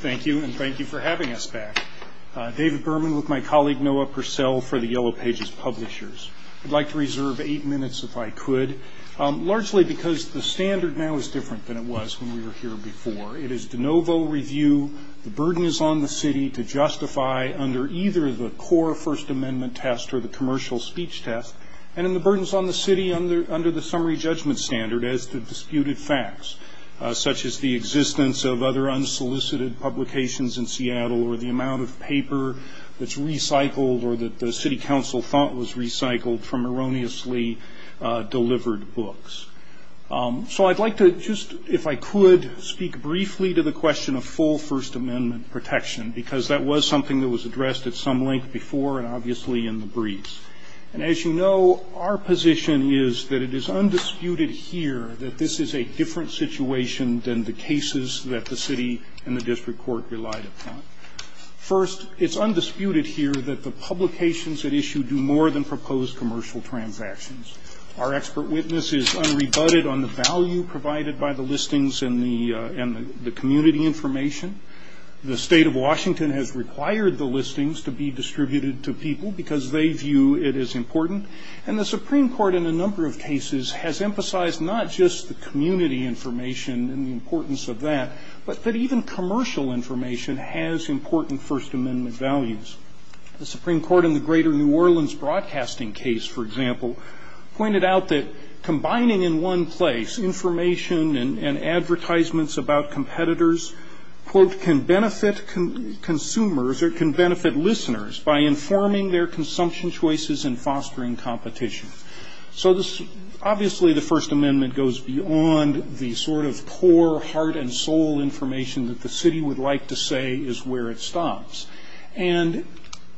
Thank you and thank you for having us back. David Berman with my colleague Noah Purcell for the Yellow Pages Publishers. I'd like to reserve eight minutes if I could, largely because the standard now is different than it was when we were here before. It is de novo review, the burden is on the city to justify under either the core First Amendment test or the commercial speech test, and then the burden is on the city under the summary judgment standard as to disputed facts, such as the existence of other unsolicited publications in Seattle or the amount of paper that's recycled or that the city council thought was recycled from erroneously delivered books. So I'd like to just, if I could, speak briefly to the question of full First Amendment protection, because that was something that was addressed at some length before and obviously in the briefs. And as you know, our position is that it is undisputed here that this is a different situation than the cases that the city and the district court relied upon. First, it's undisputed here that the publications at issue do more than propose commercial transactions. Our expert witness is unrebutted on the value provided by the listings and the community information. The state of Washington has required the listings to be distributed to people because they view it as important, and the Supreme Court in a number of cases has emphasized not just the community information and the importance of that, but that even commercial information has important First Amendment values. The Supreme Court in the Greater New Orleans Broadcasting case, for example, pointed out that combining in one place information and advertisements about competitors, quote, can benefit consumers or can benefit listeners by informing their competition. So this, obviously the First Amendment goes beyond the sort of poor heart and soul information that the city would like to say is where it stops. And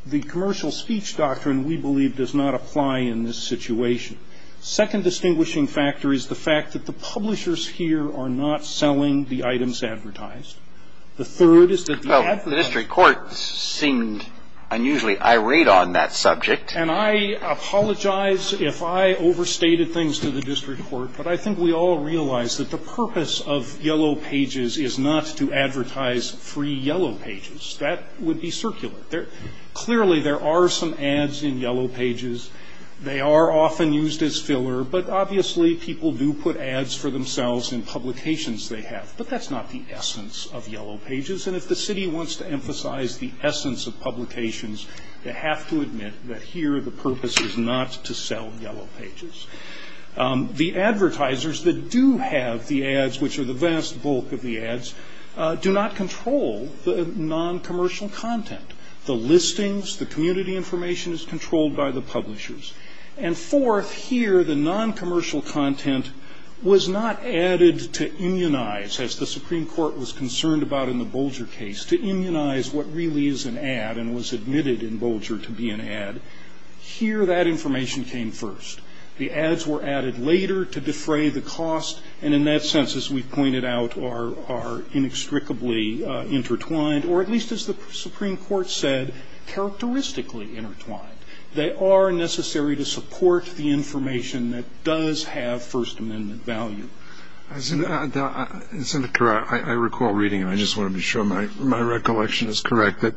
the commercial speech doctrine, we believe, does not apply in this situation. Second distinguishing factor is the fact that the publishers here are not selling the items advertised. The third is that the ad for the district court seemed unusually irate on that I apologize if I overstated things to the district court, but I think we all realize that the purpose of yellow pages is not to advertise free yellow pages. That would be circular. Clearly there are some ads in yellow pages. They are often used as filler, but obviously people do put ads for themselves in publications they have. But that's not the essence of yellow pages. And if the city wants to emphasize the essence of publications, they have to admit that here the purpose is not to sell yellow pages. The advertisers that do have the ads, which are the vast bulk of the ads, do not control the noncommercial content. The listings, the community information is controlled by the publishers. And fourth, here the noncommercial content was not added to immunize, as the Supreme Court was concerned about in the Bolger case, to immunize what really is an ad and was admitted in Bolger to be an ad. Here that information came first. The ads were added later to defray the cost, and in that sense, as we've pointed out, are inextricably intertwined, or at least as the Supreme Court said, characteristically intertwined. They are necessary to support the information that does have First Amendment value. Senator Kerr, I recall reading, and I just want to be sure my recollection is correct, that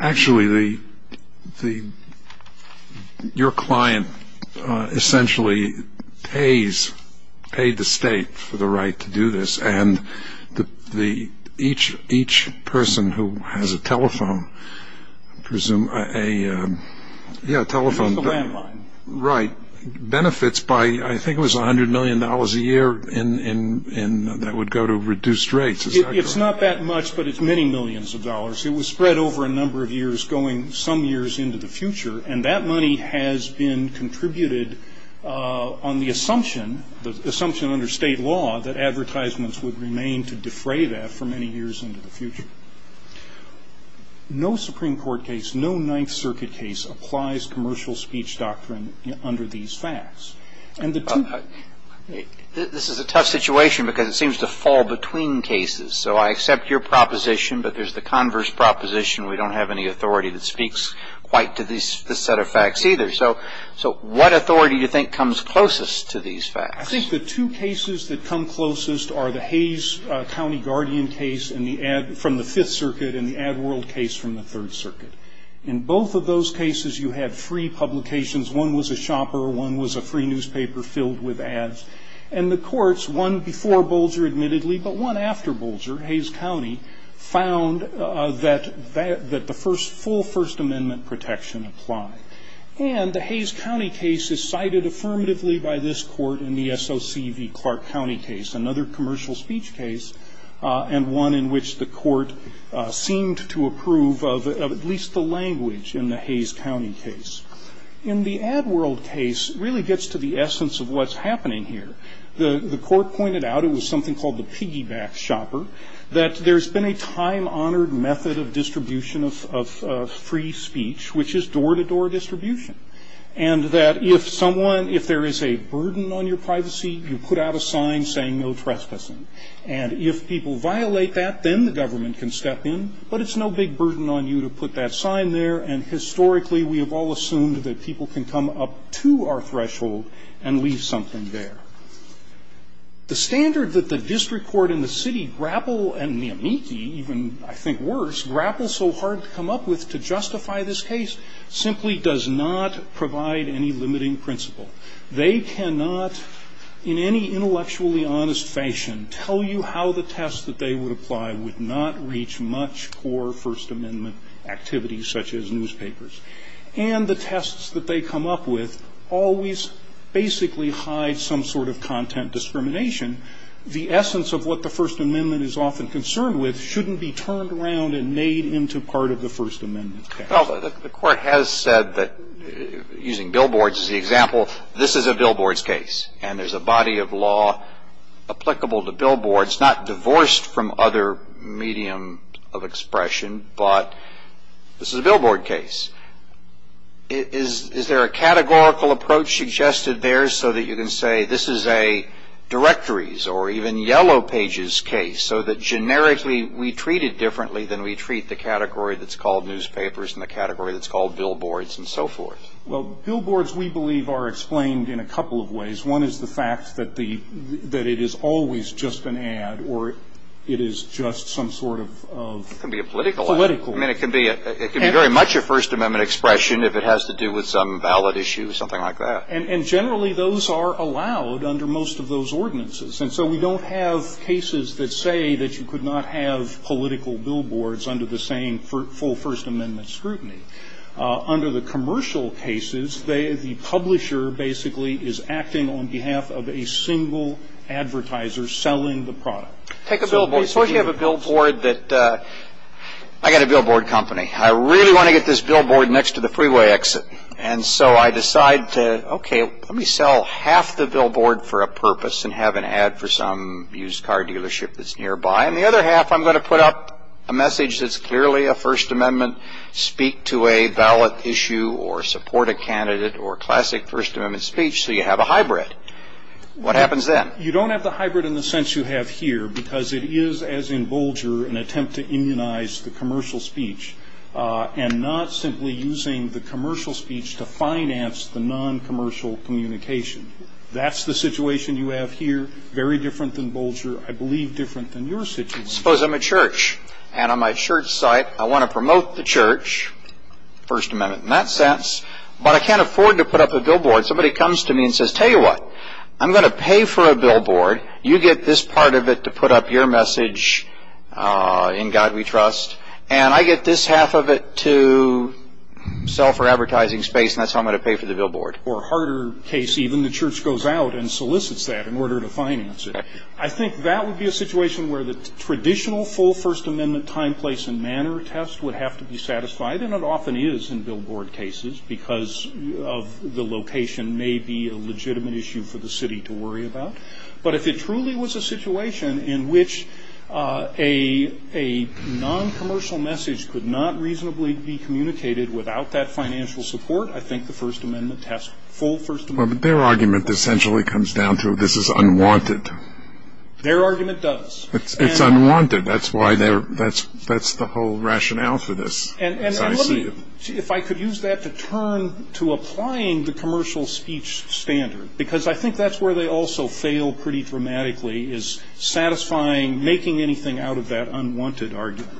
actually your client essentially pays, paid the state for the right to do this, and each person who has a telephone, I presume, a, yeah, a telephone. It's a landline. Right. Benefits by, I think it was a hundred million dollars a year, and that would go to reduced rates. It's not that much, but it's many millions of dollars. It was spread over a number of years going some years into the future, and that money has been contributed on the assumption, the assumption under state law, that advertisements would remain to defray that for many years into the future. No Supreme Court case, no Ninth Circuit case, applies commercial speech doctrine under these facts. And the two of them. This is a tough situation because it seems to fall between cases. So I accept your proposition, but there's the converse proposition. We don't have any authority that speaks quite to this set of facts either. So what authority do you think comes closest to these facts? I think the two cases that come closest are the Hayes County Guardian case from the Fifth Circuit and the Ad World case from the Third Circuit. In both of those cases, you have three publications. One was a shopper, one was a free newspaper filled with ads. And the courts, one before Bolger admittedly, but one after Bolger, Hayes County, found that the full First Amendment protection applied. And the Hayes County case is cited affirmatively by this Court in the SOC v. Clark County case, another commercial speech case, and one in which the Court seemed to approve of at least the language in the Hayes County case. In the Ad World case, it really gets to the essence of what's happening here. The Court pointed out, it was something called the piggyback shopper, that there's been a time-honored method of distribution of free speech, which is door-to-door distribution. And that if someone, if there is a burden on your privacy, you put out a sign saying no trespassing. And if people violate that, then the government can step in, but it's no big burden on you to put that sign there. And historically, we have all assumed that people can come up to our threshold and leave something there. The standard that the district court and the city grapple and the amici, even, I think, worse, grapple so hard to come up with to justify this case simply does not provide any limiting principle. They cannot, in any intellectually honest fashion, tell you how the test that they would apply would not reach much core First Amendment activity, such as newspapers. And the tests that they come up with always basically hide some sort of content discrimination. The essence of what the First Amendment is often concerned with shouldn't be turned around and made into part of the First Amendment case. Well, the Court has said that, using billboards as the example, this is a billboards case. And there's a body of law applicable to billboards, not divorced from other medium of expression, but this is a billboard case. Is there a categorical approach suggested there so that you can say, this is a directories or even yellow pages case, so that, generically, we treat it differently than we treat the category that's called newspapers and the category that's called billboards and so forth? Well, billboards, we believe, are explained in a couple of ways. One is the fact that it is always just an ad, or it is just some sort of political ad. It can be a political ad. I mean, it can be very much a First Amendment expression if it has to do with some valid issue, something like that. And generally, those are allowed under most of those ordinances. And so we don't have cases that say that you could not have political billboards under the same full First Amendment scrutiny. Under the commercial cases, the publisher basically is acting on behalf of a single advertiser selling the product. Take a billboard. Suppose you have a billboard that, I got a billboard company. I really want to get this billboard next to the freeway exit. And so I decide to, okay, let me sell half the billboard for a purpose and have an ad for some used car dealership that's nearby. And the other half, I'm going to put up a message that's clearly a First Amendment speak to a valid issue or support a candidate or classic First Amendment speech so you have a hybrid. What happens then? You don't have the hybrid in the sense you have here because it is, as in Bolger, an attempt to immunize the commercial speech and not simply using the commercial speech to finance the non-commercial communication. That's the situation you have here. Very different than Bolger. I believe different than your situation. Suppose I'm a church. And on my church site, I want to promote the church, First Amendment in that sense. But I can't afford to put up a billboard. Somebody comes to me and says, tell you what, I'm going to pay for a billboard. You get this part of it to put up your message in God We Trust. And I get this half of it to sell for advertising space and that's how I'm going to pay for the billboard. Or a harder case, even the church goes out and solicits that in order to finance it. I think that would be a situation where the traditional full First Amendment time, place and manner test would have to be satisfied. And it often is in billboard cases because of the location may be a legitimate issue for the city to worry about. But if it truly was a situation in which a non-commercial message could not reasonably be communicated without that financial support, I think the First Amendment test, full First Amendment. Their argument essentially comes down to this is unwanted. Their argument does. It's unwanted. That's why they're, that's the whole rationale for this. And let me, if I could use that to turn to applying the commercial speech standard. Because I think that's where they also fail pretty dramatically is satisfying, making anything out of that unwanted argument.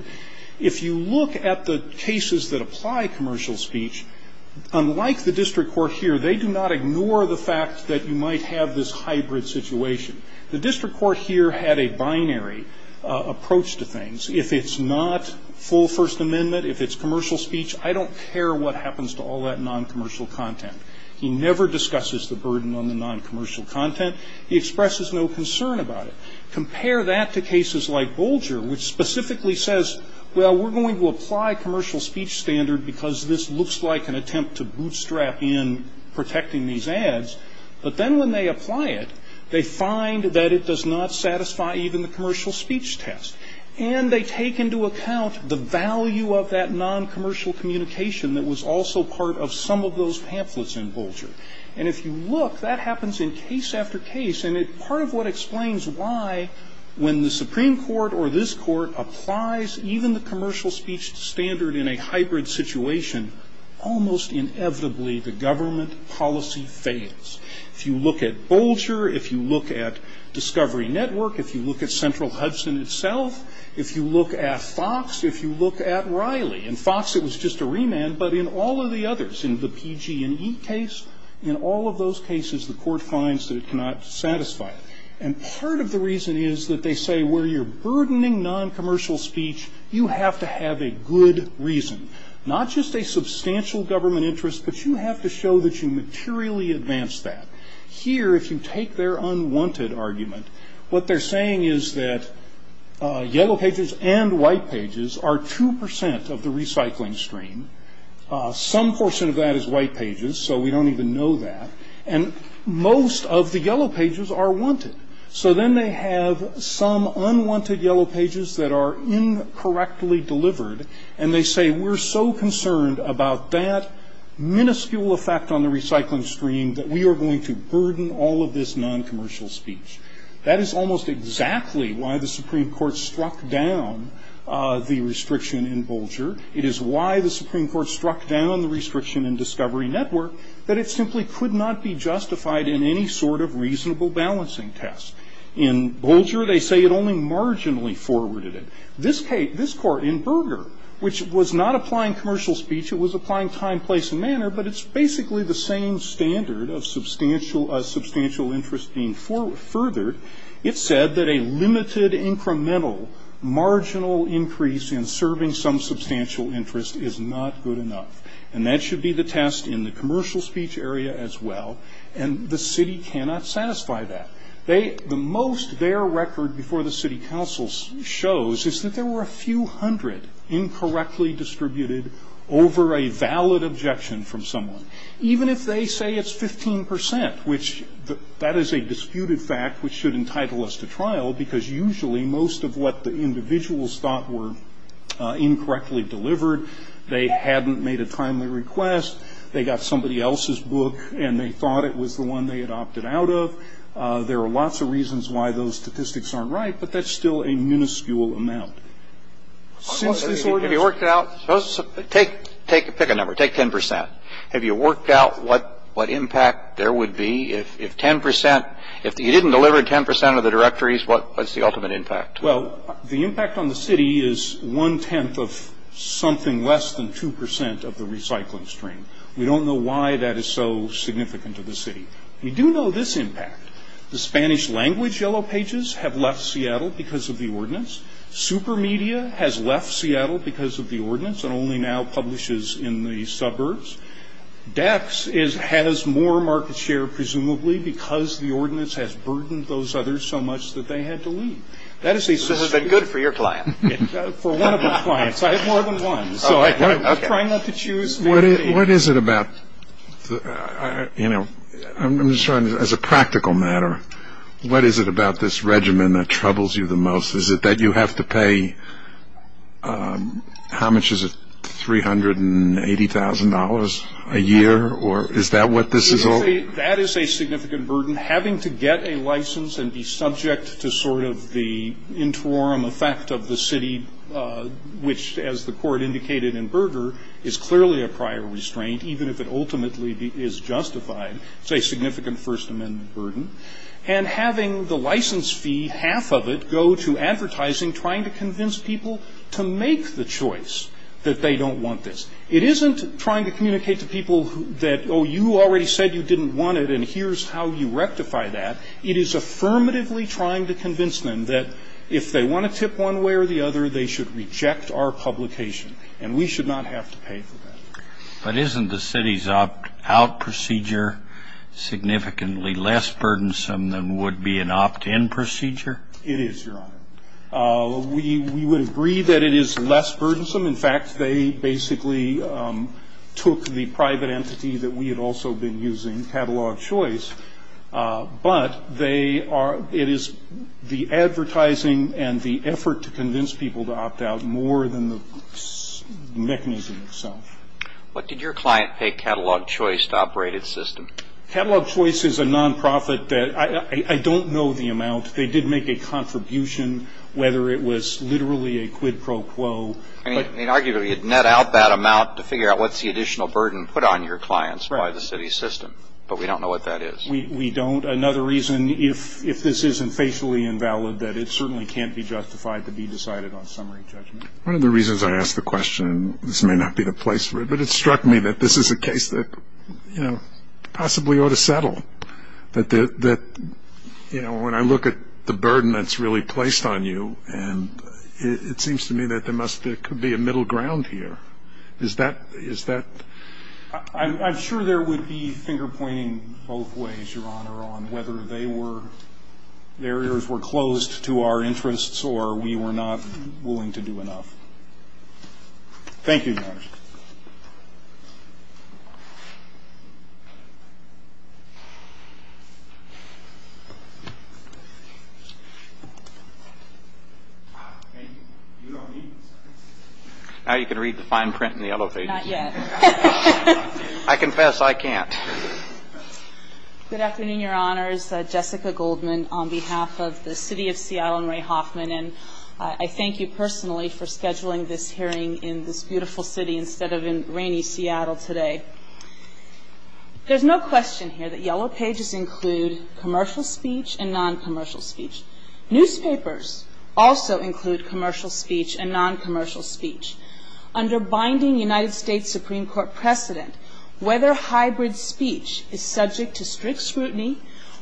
If you look at the cases that apply commercial speech, unlike the district court here, they do not ignore the fact that you might have this hybrid situation. The district court here had a binary approach to things. If it's not full First Amendment, if it's commercial speech, I don't care what happens to all that non-commercial content. He never discusses the burden on the non-commercial content. He expresses no concern about it. Compare that to cases like Bolger, which specifically says, well, we're going to apply commercial speech standard because this looks like an attempt to bootstrap in protecting these ads. But then when they apply it, they find that it does not satisfy even the commercial speech test. And they take into account the value of that non-commercial communication that was also part of some of those pamphlets in Bolger. And if you look, that happens in case after case. And part of what explains why, when the Supreme Court or this Court applies even the hybrid situation, almost inevitably, the government policy fails. If you look at Bolger, if you look at Discovery Network, if you look at Central Hudson itself, if you look at Fox, if you look at Riley, in Fox it was just a remand, but in all of the others, in the PG&E case, in all of those cases, the court finds that it cannot satisfy. And part of the reason is that they say where you're burdening non-commercial speech, you have to have a good reason. Not just a substantial government interest, but you have to show that you materially advance that. Here, if you take their unwanted argument, what they're saying is that yellow pages and white pages are 2% of the recycling stream. Some portion of that is white pages, so we don't even know that. And most of the yellow pages are wanted. So then they have some unwanted yellow pages that are incorrectly delivered, and they say we're so concerned about that minuscule effect on the recycling stream that we are going to burden all of this non-commercial speech. That is almost exactly why the Supreme Court struck down the restriction in Bolger. It is why the Supreme Court struck down the restriction in Discovery Network, that it simply could not be justified in any sort of reasonable balancing test. In Bolger, they say it only marginally forwarded it. This case, this court in Berger, which was not applying commercial speech, it was applying time, place, and manner, but it's basically the same standard of substantial interest being furthered. It said that a limited, incremental, marginal increase in serving some substantial interest is not good enough. And that should be the test in the commercial speech area as well. And the city cannot satisfy that. The most their record before the city council shows is that there were a few hundred incorrectly distributed over a valid objection from someone. Even if they say it's 15%, which that is a disputed fact, which should entitle us to trial, because usually most of what the individuals thought were incorrectly delivered, they hadn't made a timely request, they got somebody else's book, and they thought it was the one they had opted out of. There are lots of reasons why those statistics aren't right, but that's still a minuscule amount. Since this ordinance- If you worked it out, take, pick a number, take 10%. Have you worked out what impact there would be if 10%, if you didn't deliver 10% of the directories, what's the ultimate impact? Well, the impact on the city is one-tenth of something less than 2% of the recycling stream. We don't know why that is so significant to the city. We do know this impact. The Spanish language Yellow Pages have left Seattle because of the ordinance. Super Media has left Seattle because of the ordinance and only now publishes in the suburbs. Dex has more market share, presumably, because the ordinance has burdened those others so much that they had to leave. This has been good for your client. For one of the clients, I have more than one, so I'm trying not to choose. What is it about, as a practical matter, what is it about this regimen that troubles you the most? Is it that you have to pay, how much is it, $380,000 a year, or is that what this is all? That is a significant burden, having to get a license and be subject to sort of the interim effect of the city, which, as the court indicated in Berger, is clearly a prior restraint, even if it ultimately is justified, it's a significant First Amendment burden. And having the license fee, half of it, go to advertising, trying to convince people to make the choice that they don't want this. It isn't trying to communicate to people that, oh, you already said you didn't want it, and here's how you rectify that. It is affirmatively trying to convince them that if they want to tip one way or the other, they should reject our publication, and we should not have to pay for that. But isn't the city's opt-out procedure significantly less burdensome than would be an opt-in procedure? It is, Your Honor. We would agree that it is less burdensome. In fact, they basically took the private entity that we had also been using, Catalog Choice, but they are, it is the advertising and the effort to convince people to opt-out more than the mechanism itself. What did your client pay Catalog Choice to operate its system? Catalog Choice is a non-profit that, I don't know the amount. They did make a contribution, whether it was literally a quid pro quo. I mean, arguably, you'd net out that amount to figure out what's the additional burden put on your clients by the city's system, but we don't know what that is. We don't. Another reason, if this isn't facially invalid, that it certainly can't be justified to be decided on summary judgment. One of the reasons I asked the question, and this may not be the place for it, but it struck me that this is a case that, you know, possibly ought to settle, that, you know, when I look at the burden that's really placed on you, and it seems to me that there could be a middle ground here. Is that? I'm sure there would be finger-pointing both ways, Your Honor, on whether they were, barriers were closed to our interests or we were not willing to do enough. Thank you, Your Honor. Now you can read the fine print in the elevators. Not yet. I confess I can't. Good afternoon, Your Honors. Jessica Goldman on behalf of the City of Seattle and Ray Hoffman, and I thank you personally for scheduling this hearing in this beautiful city instead of in rainy Seattle today. There's no question here that yellow pages include commercial speech and non-commercial speech. Newspapers also include commercial speech and non-commercial speech. Under binding United States Supreme Court precedent, whether hybrid speech is subject to strict scrutiny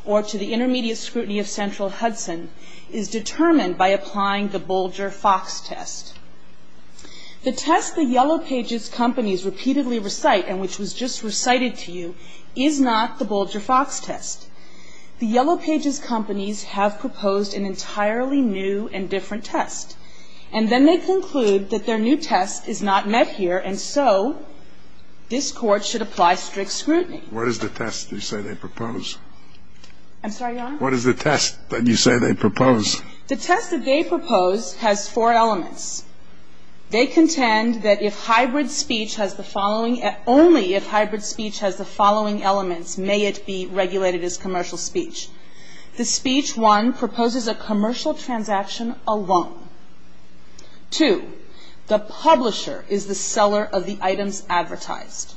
or to the intermediate scrutiny of central Hudson is determined by applying the Bolger-Fox test. The test the yellow pages companies repeatedly recite, and which was just recited to you, is not the Bolger-Fox test. The yellow pages companies have proposed an entirely new and different test, and then they conclude that their new test is not met here, and so this Court should apply strict scrutiny. What is the test you say they propose? I'm sorry, Your Honor? What is the test that you say they propose? The test that they propose has four elements. They contend that if hybrid speech has the following – only if hybrid speech has the following elements, may it be regulated as commercial speech. The speech, one, proposes a commercial transaction alone. Two, the publisher is the seller of the items advertised.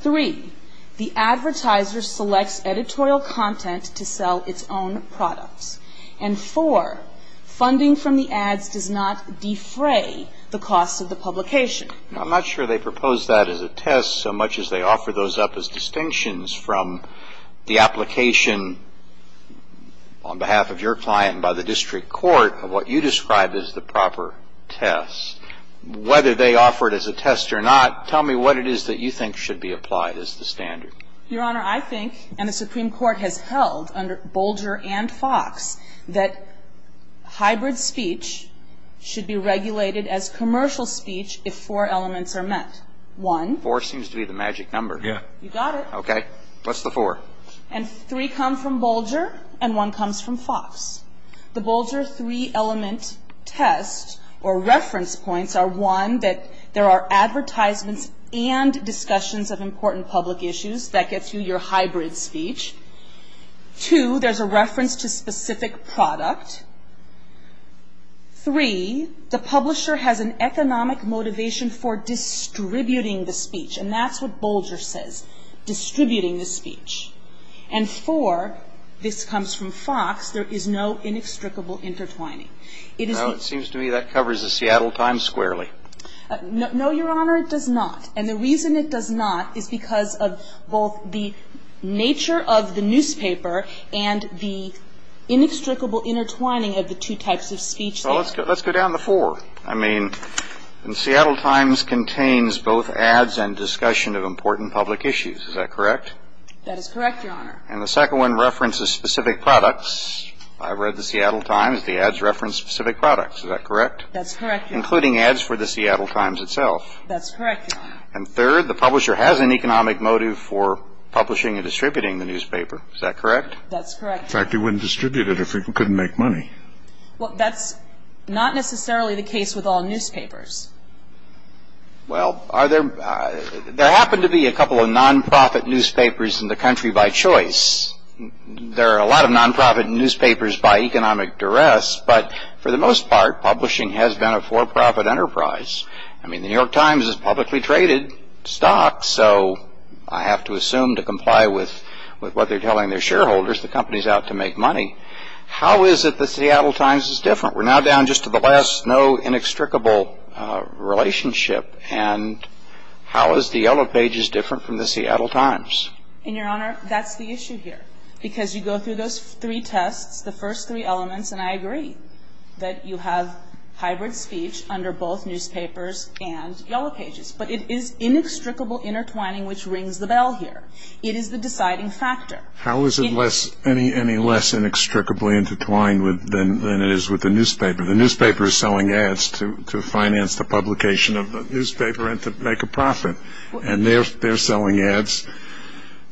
Three, the advertiser selects editorial content to sell its own products. And four, funding from the ads does not defray the cost of the publication. Now, I'm not sure they propose that as a test so much as they offer those up as distinctions from the application on behalf of your client and by the district court of what you described as the proper test. Whether they offer it as a test or not, tell me what it is that you think should be applied as the standard. Your Honor, I think, and the Supreme Court has held under Bolger and Fox, that hybrid speech should be regulated as commercial speech if four elements are met. One – Four seems to be the magic number. Yeah. You got it. Okay. What's the four? And three come from Bolger and one comes from Fox. The Bolger three-element test or reference points are, one, that there are advertisements and discussions of important public issues. That gets you your hybrid speech. Two, there's a reference to specific product. Three, the publisher has an economic motivation for distributing the speech. And that's what Bolger says, distributing the speech. And four, this comes from Fox, there is no inextricable intertwining. It is – No, it seems to me that covers the Seattle Times squarely. No, Your Honor, it does not. And the reason it does not is because of both the nature of the newspaper and the inextricable intertwining of the two types of speech. Well, let's go down the four. I mean, the Seattle Times contains both ads and discussion of important public issues. Is that correct? That is correct, Your Honor. And the second one references specific products. I read the Seattle Times. The ads reference specific products. Is that correct? That's correct, Your Honor. Including ads for the Seattle Times itself. That's correct, Your Honor. And third, the publisher has an economic motive for publishing and distributing the newspaper. Is that correct? That's correct. In fact, he wouldn't distribute it if he couldn't make money. Well, that's not necessarily the case with all newspapers. Well, are there – there happen to be a couple of non-profit newspapers in the country by choice. There are a lot of non-profit newspapers by economic duress. But for the most part, publishing has been a for-profit enterprise. I mean, the New York Times is publicly traded stock, so I have to assume to comply with what they're telling their shareholders, the company's out to make money. How is it the Seattle Times is different? We're now down just to the last no inextricable relationship. And how is the Yellow Pages different from the Seattle Times? And, Your Honor, that's the issue here. Because you go through those three tests, the first three elements, and I agree that you have hybrid speech under both newspapers and Yellow Pages. But it is inextricable intertwining which rings the bell here. It is the deciding factor. How is it less – any less inextricably intertwined than it is with the newspaper? The newspaper is selling ads to finance the publication of the newspaper and to make a profit. And they're selling ads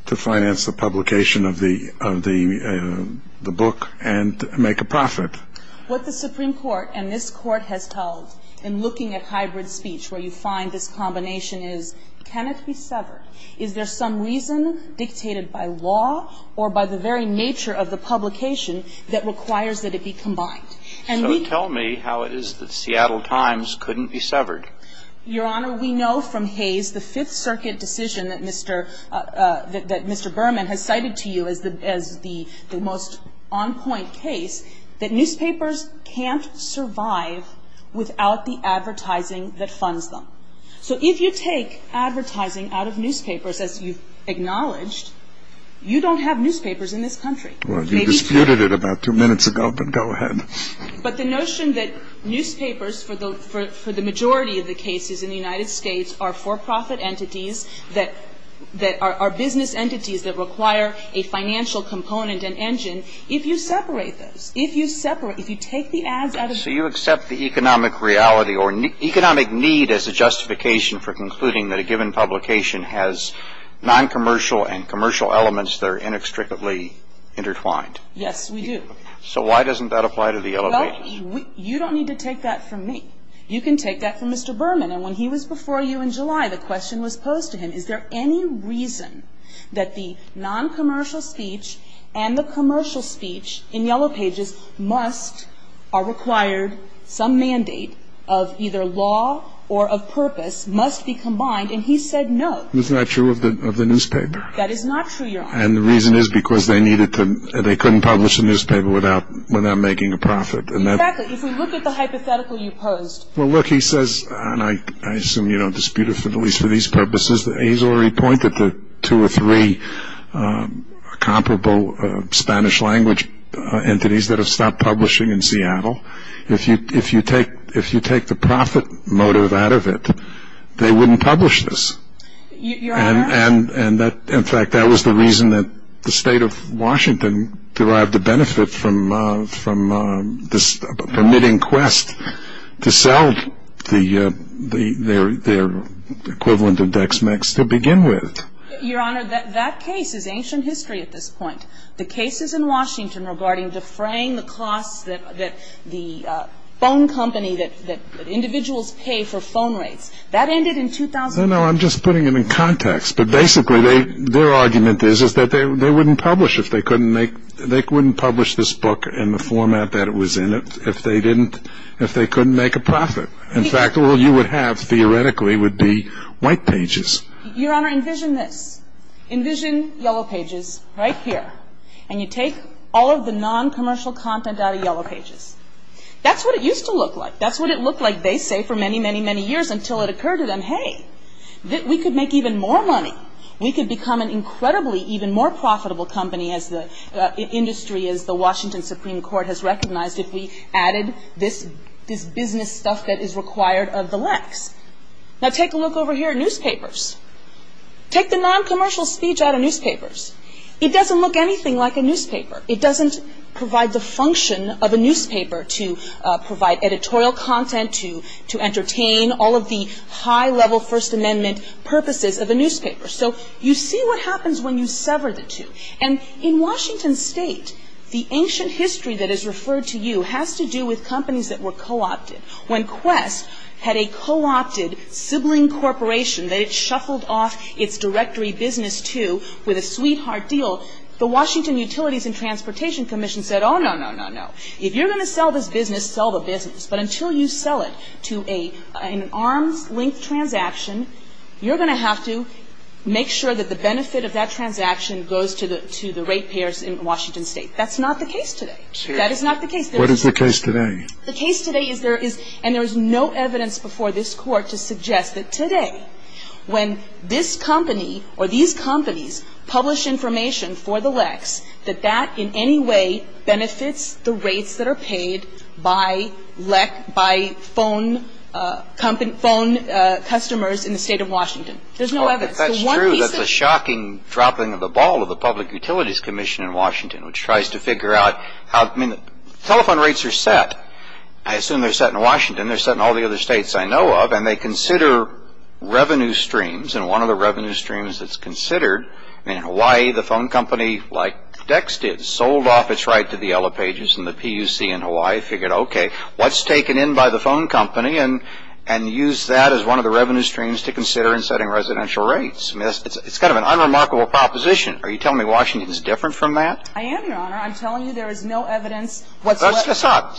to finance the publication of the book and make a profit. What the Supreme Court and this Court has held in looking at hybrid speech where you find this combination is, can it be severed? Is there some reason dictated by law or by the very nature of the publication that requires that it be combined? So tell me how it is that Seattle Times couldn't be severed. Your Honor, we know from Hayes the Fifth Circuit decision that Mr. Berman has cited to you as the most on-point case that newspapers can't survive without the advertising that funds them. So if you take advertising out of newspapers, as you've acknowledged, you don't have newspapers in this country. Well, you disputed it about two minutes ago, but go ahead. But the notion that newspapers, for the majority of the cases in the United States, are for-profit entities that – are business entities that require a financial component and engine. If you separate those, if you separate – if you take the ads out of – So you accept the economic reality or economic need as a justification for concluding that a given publication has non-commercial and commercial elements that are inextricably intertwined? Yes, we do. So why doesn't that apply to the Yellow Pages? Well, you don't need to take that from me. You can take that from Mr. Berman. And when he was before you in July, the question was posed to him, is there any reason that the non-commercial speech and the commercial speech in Yellow Pages must – are required – some mandate of either law or of purpose must be combined? And he said no. That is not true, Your Honor. And the reason is because they needed to – they couldn't publish a newspaper without making a profit. Exactly. If we look at the hypothetical you posed. Well, look, he says – and I assume you don't dispute it, at least for these purposes – that Azor, he pointed to two or three comparable Spanish-language entities that have stopped publishing in Seattle. If you take the profit motive out of it, they wouldn't publish this. Your Honor? And in fact, that was the reason that the State of Washington derived the benefit from this permitting quest to sell their equivalent of Dexmex to begin with. Your Honor, that case is ancient history at this point. The cases in Washington regarding defraying the costs that the phone company – that individuals pay for phone rates – that ended in 2000. No, no, I'm just putting it in context. But basically, their argument is that they wouldn't publish if they couldn't make – they wouldn't publish this book in the format that it was in if they didn't – if they couldn't make a profit. In fact, all you would have theoretically would be white pages. Your Honor, envision this. Envision yellow pages right here. And you take all of the non-commercial content out of yellow pages. That's what it used to look like. That's what it looked like, they say, for many, many, many years until it occurred to them, hey, we could make even more money. We could become an incredibly even more profitable company as the – industry as the Washington Supreme Court has recognized if we added this – this business stuff that is required of the likes. Now take a look over here at newspapers. Take the non-commercial speech out of newspapers. It doesn't look anything like a newspaper. It doesn't provide the function of a newspaper to provide editorial content, to entertain all of the high-level First Amendment purposes of a newspaper. So you see what happens when you sever the two. And in Washington State, the ancient history that is referred to you – has to do with companies that were co-opted. When Quest had a co-opted sibling corporation – that it shuffled off its directory business to with a sweetheart deal, the Washington Utilities and Transportation Commission said, oh, no, no, no, no. If you're going to sell this business, sell the business. But until you sell it to an arms-linked transaction, you're going to have to make sure that the benefit of that transaction goes to the rate payers in Washington State. That's not the case today. That is not the case. What is the case today? The case today is there is – and there is no evidence before this Court to suggest that today, when this company or these companies publish information for the LECs, that that in any way benefits the rates that are paid by LEC – by phone company – phone customers in the State of Washington. There's no evidence. The one piece of – Well, if that's true, that's a shocking dropping of the ball of the Public Utilities Commission in Washington, which tries to figure out how – I mean, telephone rates are set. I assume they're set in Washington. They're set in all the other states I know of. And they consider revenue streams. And one of the revenue streams that's considered – I mean, in Hawaii, the phone company, like Dext did, sold off its right to the Yellow Pages. And the PUC in Hawaii figured, okay, what's taken in by the phone company and used that as one of the revenue streams to consider in setting residential rates? It's kind of an unremarkable proposition. Are you telling me Washington is different from that? I am, Your Honor. I'm telling you there is no evidence whatsoever. Stop.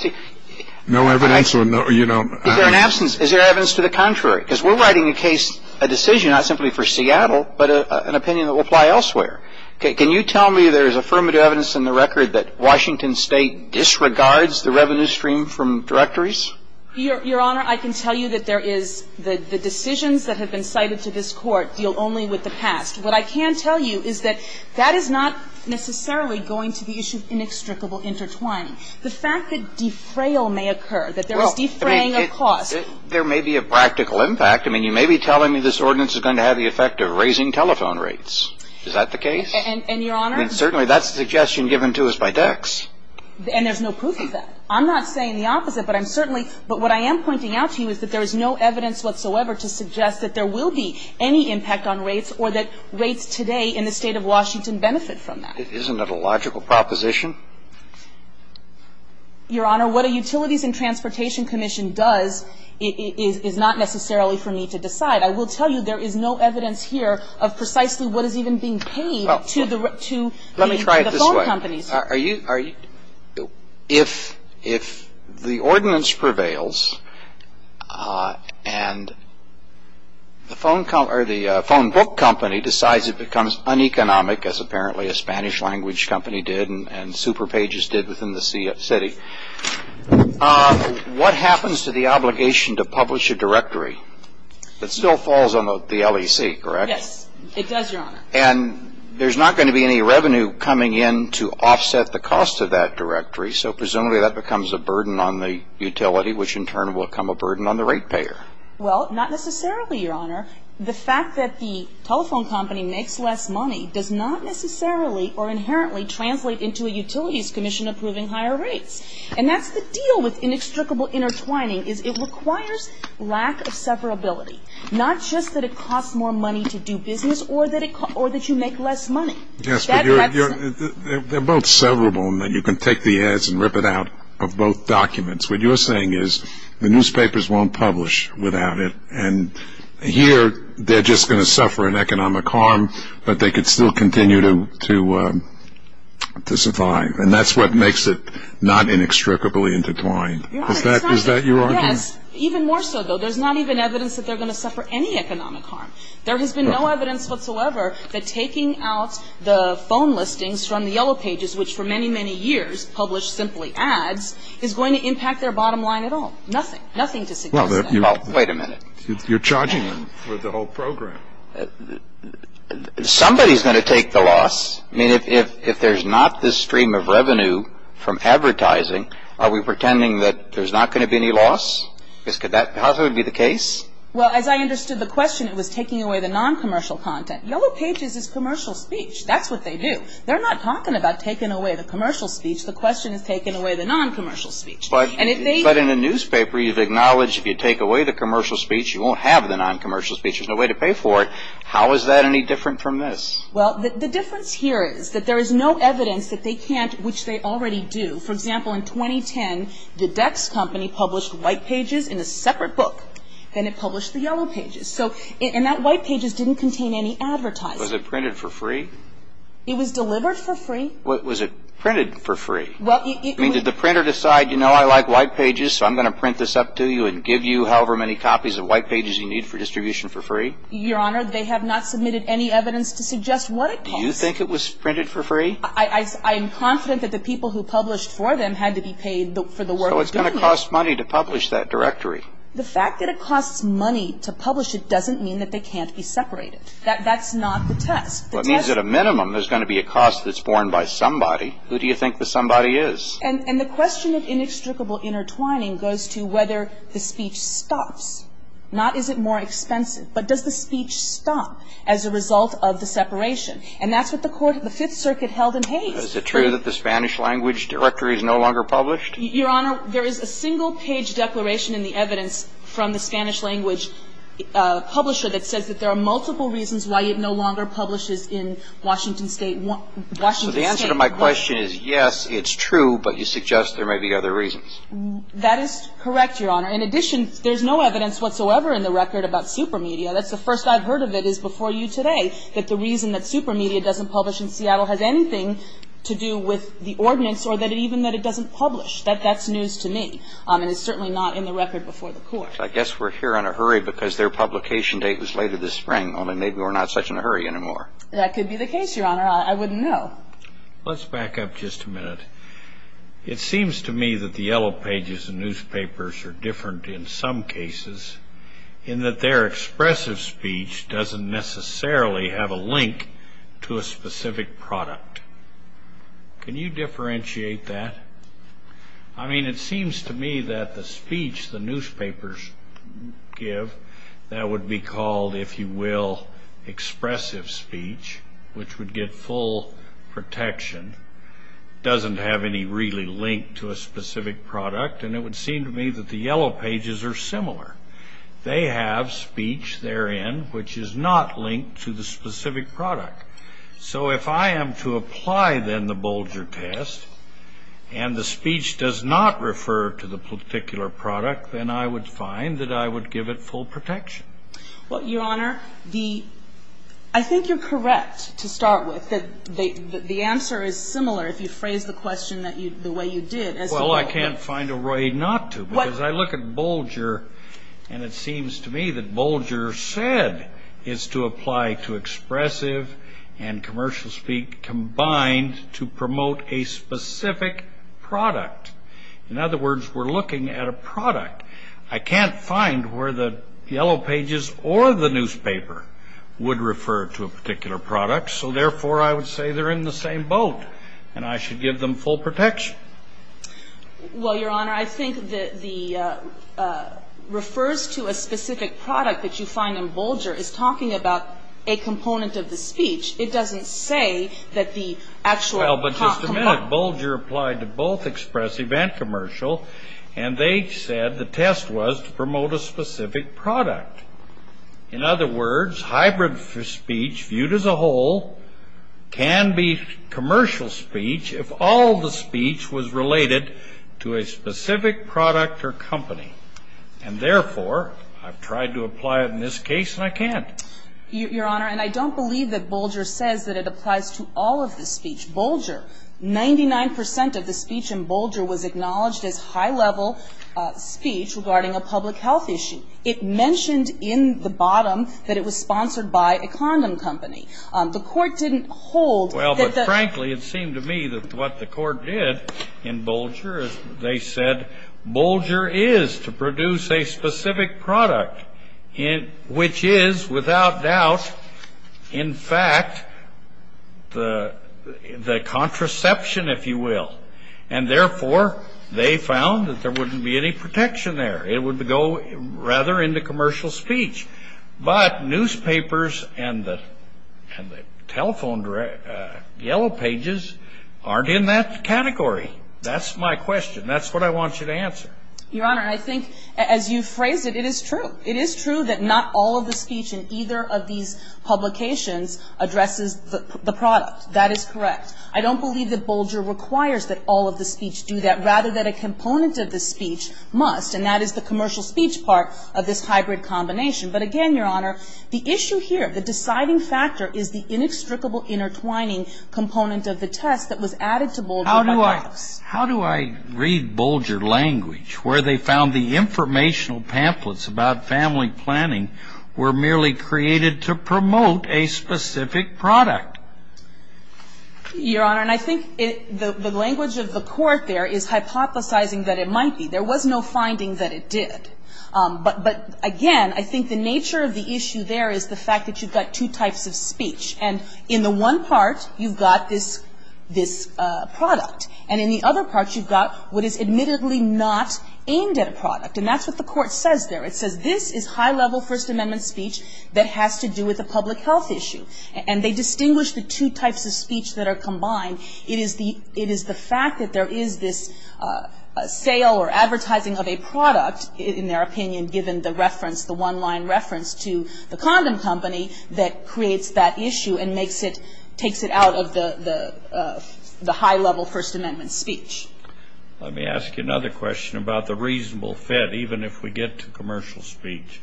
No evidence or no – you know. Is there an absence? Is there evidence to the contrary? Because we're writing a case, a decision, not simply for Seattle, but an opinion that will apply elsewhere. Can you tell me there is affirmative evidence in the record that Washington State disregards the revenue stream from directories? Your Honor, I can tell you that there is – the decisions that have been cited to this Court deal only with the past. What I can tell you is that that is not necessarily going to the issue of inextricable intertwining. The fact that defrayal may occur, that there is defraying of costs – Well, I mean, there may be a practical impact. I mean, you may be telling me this ordinance is going to have the effect of raising telephone rates. Is that the case? And, Your Honor – Certainly, that's the suggestion given to us by Dex. And there's no proof of that. I'm not saying the opposite, but I'm certainly – but what I am pointing out to you is that there is no evidence whatsoever to suggest that there will be any impact on rates or that rates today in the State of Washington benefit from that. Isn't it a logical proposition? Your Honor, what a Utilities and Transportation Commission does is not necessarily for me to decide. I will tell you there is no evidence here of precisely what is even being paid to the – Let me try it this way. To the phone companies. Are you – If the ordinance prevails and the phone company – or the phone book company decides it becomes uneconomic, as apparently a Spanish-language company did and SuperPages did within the city, what happens to the obligation to publish a directory that still falls on the LEC, correct? Yes. It does, Your Honor. And there's not going to be any revenue coming in to offset the cost of that directory, so presumably that becomes a burden on the utility, which in turn will become a burden on the rate payer. Well, not necessarily, Your Honor. The fact that the telephone company makes less money does not necessarily or inherently translate into a utilities commission approving higher rates. And that's the deal with inextricable intertwining is it requires lack of severability. Not just that it costs more money to do business or that you make less money. Yes, but you're – They're both severable in that you can take the ads and rip it out of both documents. What you're saying is the newspapers won't publish without it and here they're just going to suffer an economic harm but they could still continue to survive and that's what makes it not inextricably intertwined. Is that your argument? Yes, even more so though. There's not even evidence that they're going to suffer any economic harm. There has been no evidence whatsoever that taking out the phone listings from the Yellow Pages, which for many, many years published simply ads, is going to impact their bottom line at all. Nothing. Nothing to suggest that. Well, wait a minute. You're charging them for the whole program. Somebody's going to take the loss. I mean, if there's not this stream of revenue from advertising, are we pretending that there's not going to be any loss? How's that going to be the case? Well, as I understood the question, it was taking away the non-commercial content. Yellow Pages is commercial speech. That's what they do. They're not talking about taking away the commercial speech. The question is taking away the non-commercial speech. But in a newspaper, you've acknowledged if you take away the commercial speech, you won't have the non-commercial speech. There's no way to pay for it. How is that any different from this? Well, the difference here is that there is no evidence that they can't, which they already do. For example, in 2010, the Dex Company published White Pages in a separate book. Then it published the Yellow Pages. And that White Pages didn't contain any advertising. Was it printed for free? It was delivered for free. Was it printed for free? I mean, did the printer decide, you know, I like White Pages, so I'm going to print this up to you and give you however many copies of White Pages you need for distribution for free? Your Honor, they have not submitted any evidence to suggest what it costs. Do you think it was printed for free? I am confident that the people who published for them had to be paid for the work of doing it. So it's going to cost money to publish that directory. The fact that it costs money to publish it doesn't mean that they can't be separated. That's not the test. Well, it means at a minimum there's going to be a cost that's borne by somebody. Who do you think the somebody is? And the question of inextricable intertwining goes to whether the speech stops. Not is it more expensive, but does the speech stop as a result of the separation? And that's what the Court of the Fifth Circuit held in Hays. Is it true that the Spanish language directory is no longer published? Your Honor, there is a single-page declaration in the evidence from the Spanish language publisher that says that there are multiple reasons why it no longer publishes in Washington State. So the answer to my question is yes, it's true, but you suggest there may be other reasons. That is correct, Your Honor. In addition, there's no evidence whatsoever in the record about Supermedia. That's the first I've heard of it is before you today, that the reason that Supermedia doesn't publish in Seattle has anything to do with the ordinance or even that it doesn't publish. That's news to me. And it's certainly not in the record before the Court. I guess we're here in a hurry because their publication date was later this spring. Only maybe we're not such in a hurry anymore. That could be the case, Your Honor. I wouldn't know. Let's back up just a minute. It seems to me that the Yellow Pages and newspapers are different in some cases in that their expressive speech doesn't necessarily have a link to a specific product. Can you differentiate that? I mean, it seems to me that the speech the newspapers give, that would be called, if you will, expressive speech, which would get full protection, doesn't have any really link to a specific product. And it would seem to me that the Yellow Pages are similar. They have speech therein which is not linked to the specific product. So if I am to apply then the Bolger test and the speech does not refer to the particular product, then I would find that I would give it full protection. Well, Your Honor, I think you're correct to start with. The answer is similar if you phrase the question the way you did. Well, I can't find a way not to because I look at Bolger and it seems to me that Bolger said it's to apply to expressive and commercial speech combined to promote a specific product. In other words, we're looking at a product. I can't find where the Yellow Pages or the newspaper would refer to a particular product. So therefore, I would say they're in the same boat and I should give them full protection. Well, Your Honor, I think that the refers to a specific product that you find in Bolger is talking about a component of the speech. It doesn't say that the actual... Well, but just a minute. Bolger applied to both expressive and commercial and they said the test was to promote a specific product. In other words, hybrid speech viewed as a whole can be commercial speech if all the speech was related to a specific product or company. And therefore, I've tried to apply it in this case and I can't. Your Honor, and I don't believe that Bolger says that it applies to all of the speech. Bolger, 99% of the speech in Bolger was acknowledged as high-level speech regarding a public health issue. It mentioned in the bottom that it was sponsored by a condom company. The court didn't hold... Well, but frankly, it seemed to me that what the court did in Bolger is they said Bolger is to produce a specific product which is without doubt, in fact, the contraception, if you will. And therefore, they found that there wouldn't be any protection there. It would go rather into commercial speech. But newspapers and the telephone yellow pages aren't in that category. That's my question. That's what I want you to answer. Your Honor, I think as you phrased it, it is true. It is true that not all of the speech in either of these publications addresses the product. That is correct. I don't believe that Bolger requires that all of the speech do that rather than a component of the speech must. And that is the commercial speech part of this hybrid combination. But again, Your Honor, the issue here, the deciding factor is the inextricable intertwining component of the test that was added to Bolger. How do I read Bolger language where they found the informational pamphlets about family planning were merely created to promote a specific product? Your Honor, I think the language of the court there is hypothesizing that it might be. There was no finding that it did. But again, I think the nature of the issue there is the fact that you've got two types of speech. And in the one part, you've got this product. And in the other part, you've got what is admittedly not aimed at a product. And that's what the court says there. It says this is high-level First Amendment speech that has to do with a public health issue. And they distinguish the two types of speech that are combined. It is the fact that there is this sale or advertising of a product, in their opinion, given the reference, the one-line reference to the condom company that creates that issue and takes it out of the high-level First Amendment speech. Let me ask you another question about the reasonable fit, even if we get to commercial speech.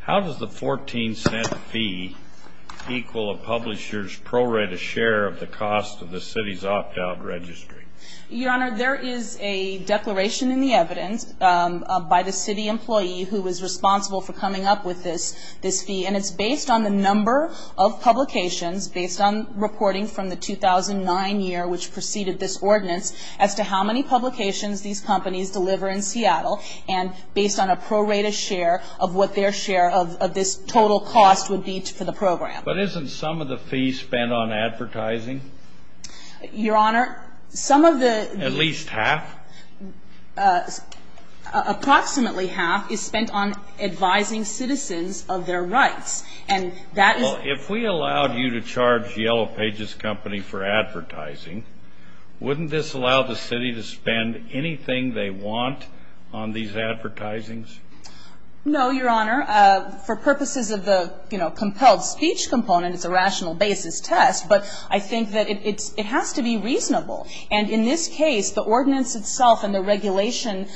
How does the 14-cent fee equal a publisher's prorated share of the cost of the city's opt-out registry? Your Honor, there is a declaration in the evidence by the city employee who was responsible for coming up with this fee. And it's based on the number of publications, based on reporting from the 2009 year which preceded this ordinance, as to how many publications these companies deliver in Seattle, and based on a prorated share of what their share of this total cost would be for the program. But isn't some of the fee spent on advertising? Your Honor, some of the... At least half? Approximately half is spent on advising citizens of their rights. And that is... Well, if we allowed you to charge Yellow Pages Company for advertising, wouldn't this allow the city to spend anything they want on these advertisings? No, Your Honor. For purposes of the, you know, compelled speech component, it's a rational basis test. But I think that it has to be reasonable. And in this case, the ordinance itself and the regulation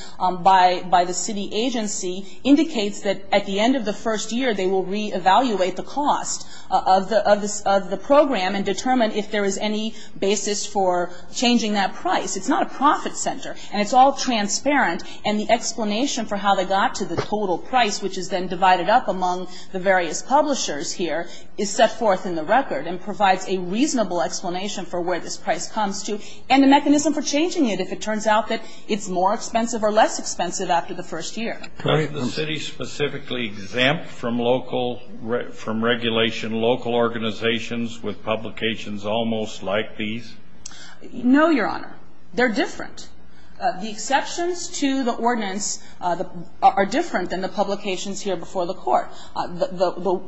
by the city agency indicates that at the end of the first year, they will reevaluate the cost of the program and determine if there is any basis for changing that price. It's not a profit center. And it's all transparent. And the explanation for how they got to the total price, which is then divided up among the various publishers here, is set forth in the record and provides a reasonable explanation for where this price comes to and the mechanism for changing it if it turns out that it's more expensive or less expensive after the first year. Doesn't the city specifically exempt from regulation local organizations with publications almost like these? No, Your Honor. They're different. The exceptions to the ordinance are different than the publications here before the court. The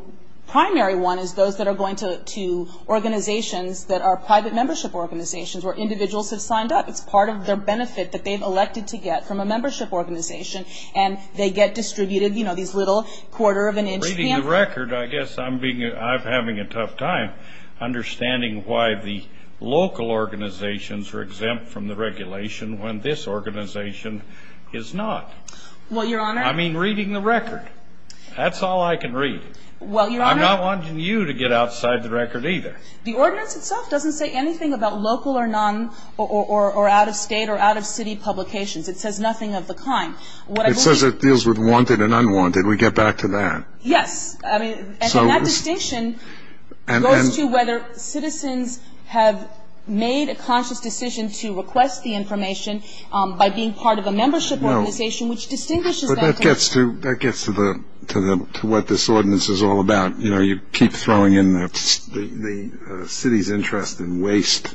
primary one is those that are going to organizations that are private membership organizations where individuals have signed up. It's part of their benefit that they've elected to get from a membership organization. And they get distributed, you know, these little quarter-of-an-inch pamphlets. Reading the record, I guess I'm having a tough time understanding why the local organizations are exempt from the regulation when this organization is not. Well, Your Honor. I mean reading the record. That's all I can read. Well, Your Honor. I'm not wanting you to get outside the record either. The ordinance itself doesn't say anything about local or non- or out-of-state or out-of-city publications. It says nothing of the kind. It says it deals with wanted and unwanted. We get back to that. Yes. And that distinction goes to whether citizens have made a conscious decision to request the information by being part of a membership organization which distinguishes that information. That gets to what this ordinance is all about. You know, you keep throwing in the city's interest in waste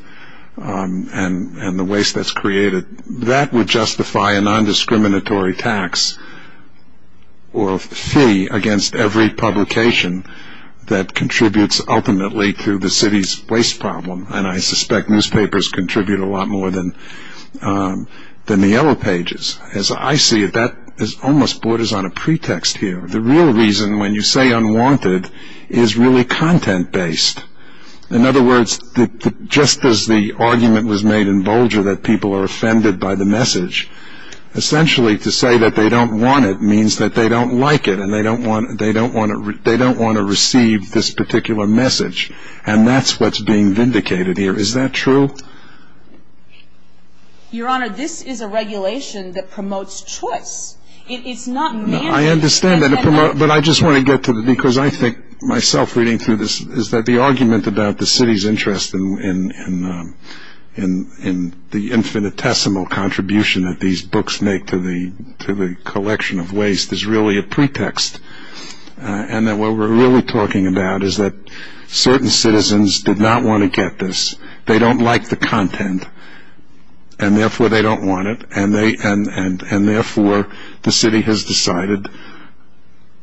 and the waste that's created. That would justify a nondiscriminatory tax or fee against every publication that contributes ultimately to the city's waste problem. And I suspect newspapers contribute a lot more than the Yellow Pages. As I see it, that almost borders on a pretext here. The real reason when you say unwanted is really content-based. In other words, just as the argument was made in Bolger that people are offended by the message, essentially to say that they don't want it means that they don't like it and they don't want to receive this particular message. And that's what's being vindicated here. Is that true? Your Honor, this is a regulation that promotes choice. I understand that, but I just want to get to it because I think myself reading through this is that the argument about the city's interest in the infinitesimal contribution that these books make to the collection of waste is really a pretext. And that what we're really talking about is that certain citizens did not want to get this. They don't like the content, and therefore they don't want it, and therefore the city has decided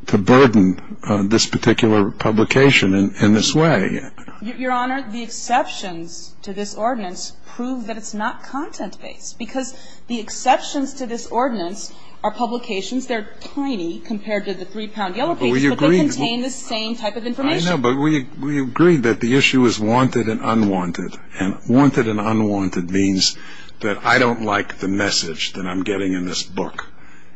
to burden this particular publication in this way. Your Honor, the exceptions to this ordinance prove that it's not content-based because the exceptions to this ordinance are publications that are tiny compared to the three-pound Yellow Pages, but they contain the same type of information. I know, but we agree that the issue is wanted and unwanted, and wanted and unwanted means that I don't like the message that I'm getting in this book,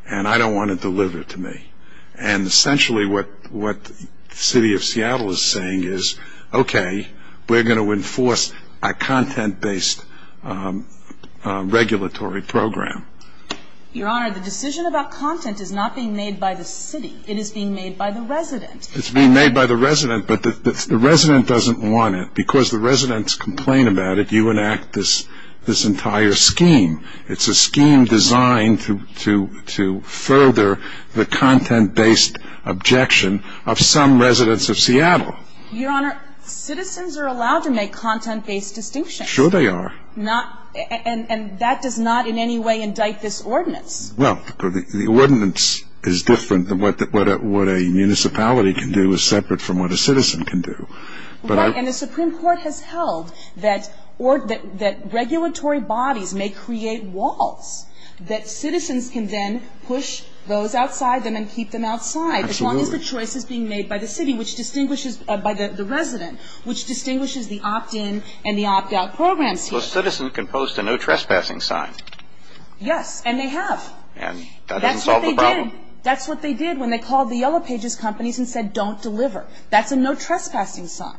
and I don't want it delivered to me. And essentially what the city of Seattle is saying is, okay, we're going to enforce a content-based regulatory program. Your Honor, the decision about content is not being made by the city. It is being made by the resident. It's being made by the resident, but the resident doesn't want it because the residents complain about it, you enact this entire scheme. It's a scheme designed to further the content-based objection of some residents of Seattle. Your Honor, citizens are allowed to make content-based distinctions. Sure they are. And that does not in any way indict this ordinance. Well, the ordinance is different. What a municipality can do is separate from what a citizen can do. Right, and the Supreme Court has held that regulatory bodies may create walls, that citizens can then push those outside them and keep them outside. Absolutely. As long as the choice is being made by the city, which distinguishes, by the resident, which distinguishes the opt-in and the opt-out programs here. So a citizen can post a no trespassing sign. Yes, and they have. And that doesn't solve the problem. That's what they did when they called the Yellow Pages companies and said don't deliver. That's a no trespassing sign.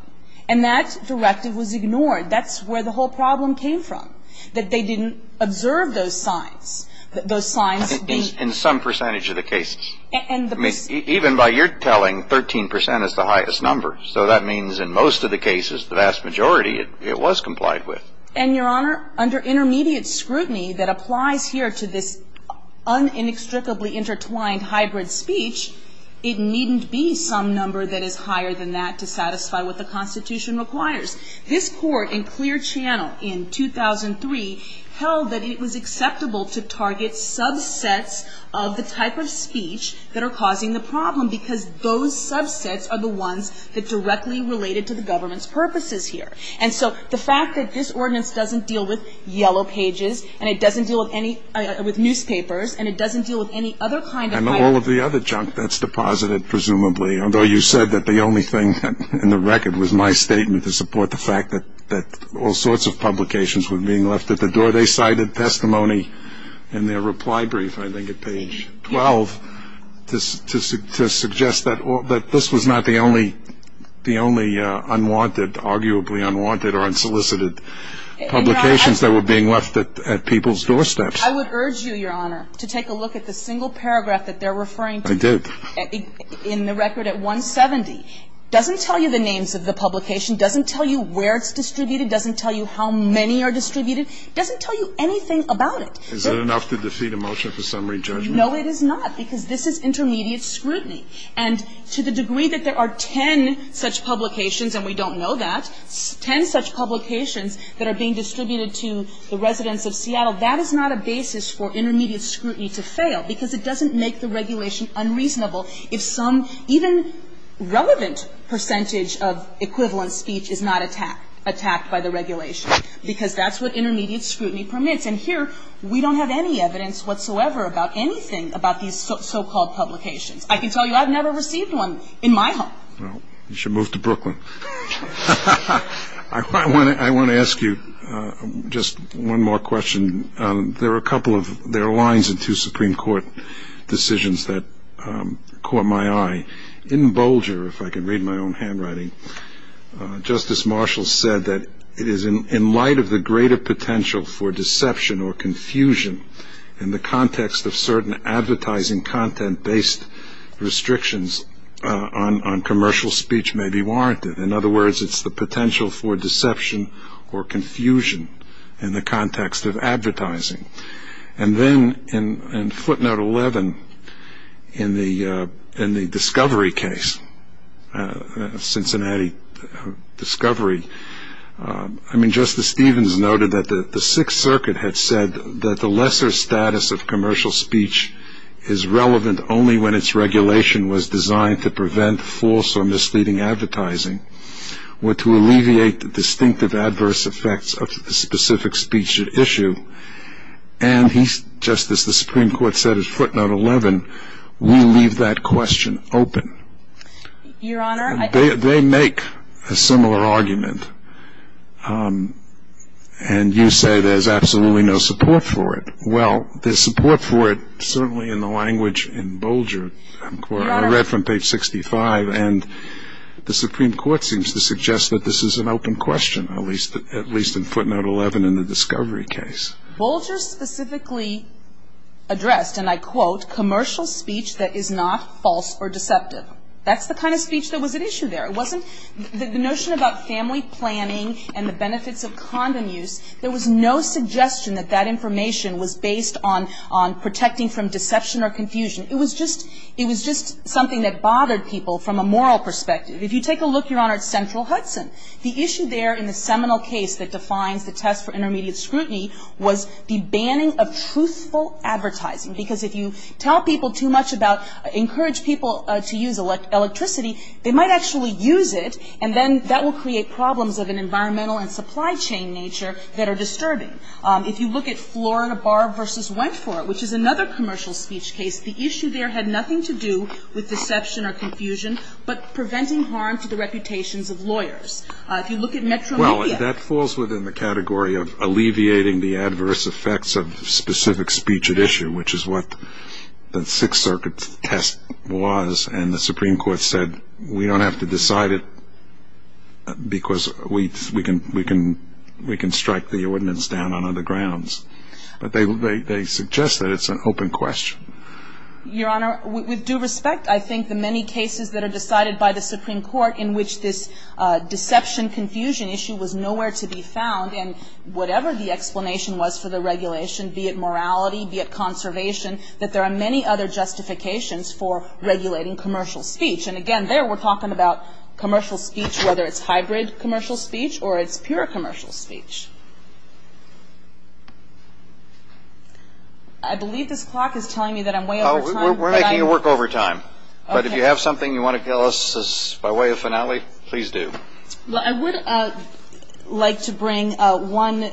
And that directive was ignored. That's where the whole problem came from, that they didn't observe those signs, those signs being. In some percentage of the cases. Even by your telling, 13 percent is the highest number. So that means in most of the cases, the vast majority, it was complied with. And, Your Honor, under intermediate scrutiny that applies here to this un-inextricably intertwined hybrid speech, it needn't be some number that is higher than that to satisfy what the Constitution requires. This court in Clear Channel in 2003 held that it was acceptable to target subsets of the type of speech that are causing the problem because those subsets are the ones that directly related to the government's purposes here. And so the fact that this ordinance doesn't deal with Yellow Pages and it doesn't deal with newspapers and it doesn't deal with any other kind of. And all of the other junk that's deposited, presumably, although you said that the only thing in the record was my statement to support the fact that all sorts of publications were being left at the door. They cited testimony in their reply brief, I think at page 12, to suggest that this was not the only unwanted, arguably unwanted or unsolicited publications that were being left at people's doorsteps. I would urge you, Your Honor, to take a look at the single paragraph that they're referring to. I did. In the record at 170. It doesn't tell you the names of the publication. It doesn't tell you where it's distributed. It doesn't tell you how many are distributed. It doesn't tell you anything about it. Is it enough to defeat a motion for summary judgment? No, it is not, because this is intermediate scrutiny. And to the degree that there are ten such publications, and we don't know that, ten such publications that are being distributed to the residents of Seattle, that is not a basis for intermediate scrutiny to fail, because it doesn't make the regulation unreasonable if some even relevant percentage of equivalent speech is not attacked by the regulation, because that's what intermediate scrutiny permits. And here we don't have any evidence whatsoever about anything about these so-called publications. I can tell you I've never received one in my home. Well, you should move to Brooklyn. I want to ask you just one more question. There are lines in two Supreme Court decisions that caught my eye. In Bolger, if I can read my own handwriting, Justice Marshall said that it is in light of the greater potential for deception or confusion in the context of certain advertising content-based restrictions on commercial speech may be warranted. In other words, it's the potential for deception or confusion in the context of advertising. And then in footnote 11 in the discovery case, Cincinnati discovery, I mean, Justice Stevens noted that the Sixth Circuit had said that the lesser status of commercial speech is relevant only when its regulation was designed to prevent false or misleading advertising or to alleviate the distinctive adverse effects of the specific speech at issue. And, Justice, the Supreme Court said in footnote 11, we leave that question open. Your Honor, I They make a similar argument, and you say there's absolutely no support for it. Well, there's support for it certainly in the language in Bolger. Your Honor I read from page 65, and the Supreme Court seems to suggest that this is an open question, at least in footnote 11 in the discovery case. Bolger specifically addressed, and I quote, commercial speech that is not false or deceptive. That's the kind of speech that was at issue there. The notion about family planning and the benefits of condom use, there was no suggestion that that information was based on protecting from deception or confusion. It was just something that bothered people from a moral perspective. If you take a look, Your Honor, at Central Hudson, the issue there in the seminal case that defines the test for intermediate scrutiny was the banning of truthful advertising. Because if you tell people too much about, encourage people to use electricity, they might actually use it, and then that will create problems of an environmental and supply chain nature that are disturbing. If you look at Florida Bar v. Wentworth, which is another commercial speech case, the issue there had nothing to do with deception or confusion, but preventing harm to the reputations of lawyers. If you look at Metro Media. Well, that falls within the category of alleviating the adverse effects of specific speech at issue, which is what the Sixth Circuit test was, and the Supreme Court said we don't have to decide it because we can strike the ordinance down on other grounds. But they suggest that it's an open question. Your Honor, with due respect, I think the many cases that are decided by the Supreme Court in which this deception-confusion issue was nowhere to be found, and whatever the explanation was for the regulation, be it morality, be it conservation, that there are many other justifications for regulating commercial speech. And again, there we're talking about commercial speech, whether it's hybrid commercial speech or it's pure commercial speech. I believe this clock is telling me that I'm way over time. We're making it work over time. Okay. But if you have something you want to tell us by way of finale, please do. Well, I would like to bring one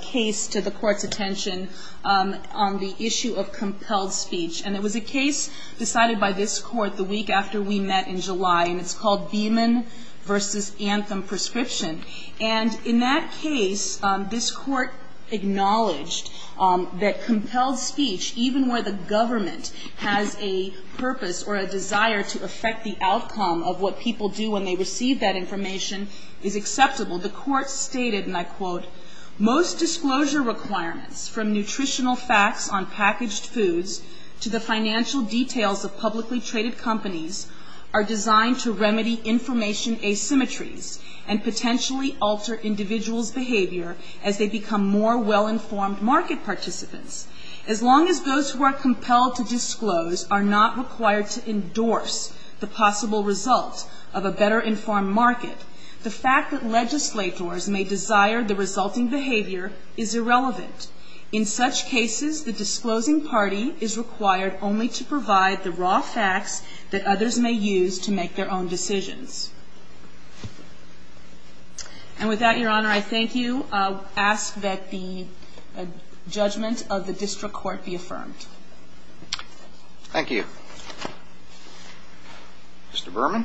case to the Court's attention on the issue of compelled speech. And it was a case decided by this Court the week after we met in July, and it's called Beeman v. Anthem Prescription. And in that case, this Court acknowledged that compelled speech, even where the government has a purpose or a desire to affect the outcome of what people do when they receive that information, is acceptable. The Court stated, and I quote, Most disclosure requirements, from nutritional facts on packaged foods to the financial details of publicly traded companies, are designed to remedy information asymmetries and potentially alter individuals' behavior as they become more well-informed market participants. As long as those who are compelled to disclose are not required to endorse the possible result of a better informed market, the fact that legislators may desire the resulting behavior is irrelevant. In such cases, the disclosing party is required only to provide the raw facts that others may use to make their own decisions. And with that, Your Honor, I thank you. I'll ask that the judgment of the district court be affirmed. Thank you. Mr. Berman.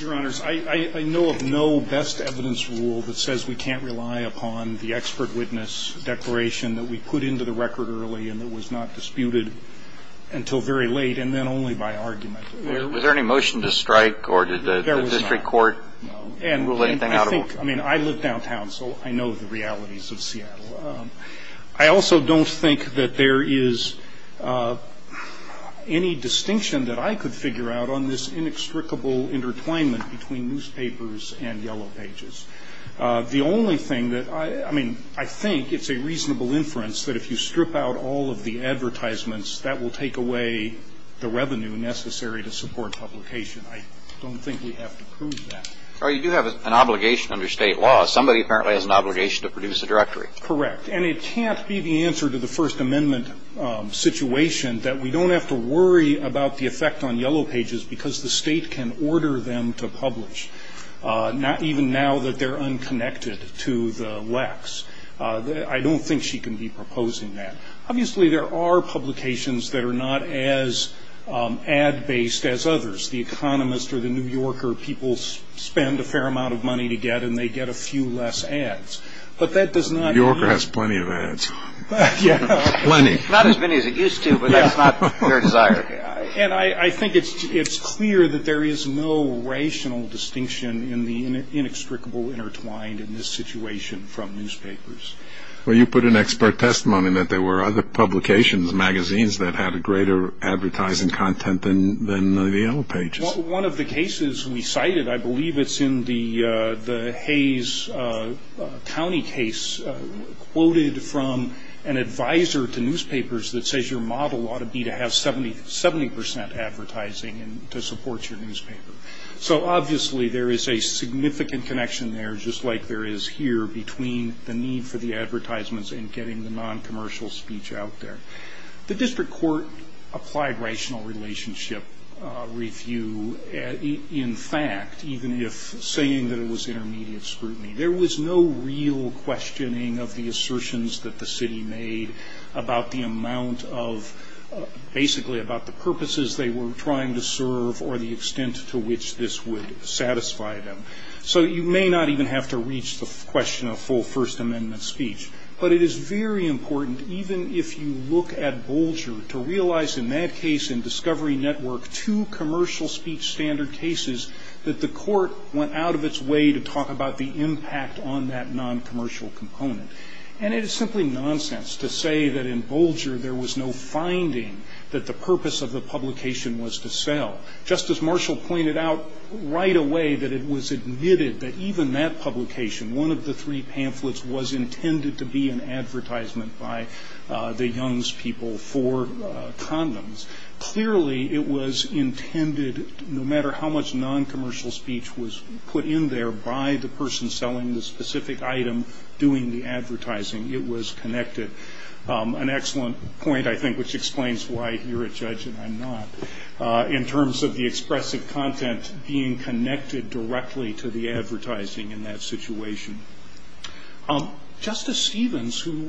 Your Honors, I know of no best evidence rule that says we can't rely upon the expert witness declaration that we put into the record early and that was not disputed until very late and then only by argument. Was there any motion to strike or did the district court rule anything out of order? I mean, I live downtown, so I know the realities of Seattle. I also don't think that there is any distinction that I could figure out on this inextricable intertwinement between newspapers and yellow pages. The only thing that, I mean, I think it's a reasonable inference that if you strip out all of the advertisements, that will take away the revenue necessary to support publication. I don't think we have to prove that. Well, you do have an obligation under state law. Somebody apparently has an obligation to produce a directory. Correct. And it can't be the answer to the First Amendment situation that we don't have to worry about the effect on yellow pages because the state can order them to publish, not even now that they're unconnected to the lex. I don't think she can be proposing that. Obviously, there are publications that are not as ad-based as others. The Economist or the New Yorker, people spend a fair amount of money to get and they get a few less ads. But that does not mean... The New Yorker has plenty of ads. Yeah. Plenty. Not as many as it used to, but that's not their desire. And I think it's clear that there is no rational distinction in the inextricable intertwined in this situation from newspapers. Well, you put an expert testimony that there were other publications, magazines that had a greater advertising content than the yellow pages. Well, one of the cases we cited, I believe it's in the Hayes County case, quoted from an advisor to newspapers that says your model ought to be to have 70% advertising to support your newspaper. So, obviously, there is a significant connection there, just like there is here between the need for the advertisements and getting the non-commercial speech out there. The district court applied rational relationship review, in fact, even if saying that it was intermediate scrutiny. There was no real questioning of the assertions that the city made or the extent to which this would satisfy them. So you may not even have to reach the question of full First Amendment speech. But it is very important, even if you look at Bolger, to realize in that case in Discovery Network two commercial speech standard cases that the court went out of its way to talk about the impact on that non-commercial component. And it is simply nonsense to say that in Bolger there was no finding that the purpose of the publication was to sell. Justice Marshall pointed out right away that it was admitted that even that publication, one of the three pamphlets, was intended to be an advertisement by the Young's people for condoms. Clearly, it was intended, no matter how much non-commercial speech was put in there by the person selling the specific item doing the advertising, it was connected. An excellent point, I think, which explains why you're a judge and I'm not, in terms of the expressive content being connected directly to the advertising in that situation. Justice Stevens, who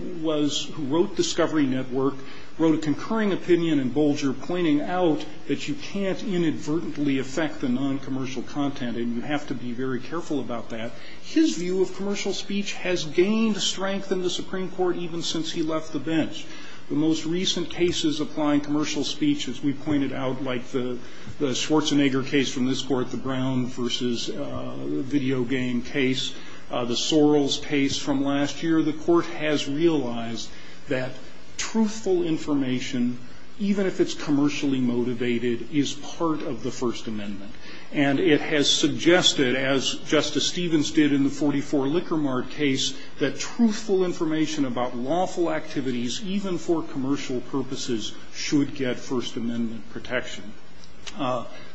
wrote Discovery Network, wrote a concurring opinion in Bolger pointing out that you can't inadvertently affect the non-commercial content and you have to be very careful about that. His view of commercial speech has gained strength in the Supreme Court even since he left the bench. The most recent cases applying commercial speech, as we pointed out, like the Schwarzenegger case from this Court, the Brown v. Video Game case, the Sorrells case from last year, the Court has realized that truthful information, even if it's commercially motivated, is part of the First Amendment. And it has suggested, as Justice Stevens did in the 44 Liquor Mart case, that truthful information about lawful activities, even for commercial purposes, should get First Amendment protection.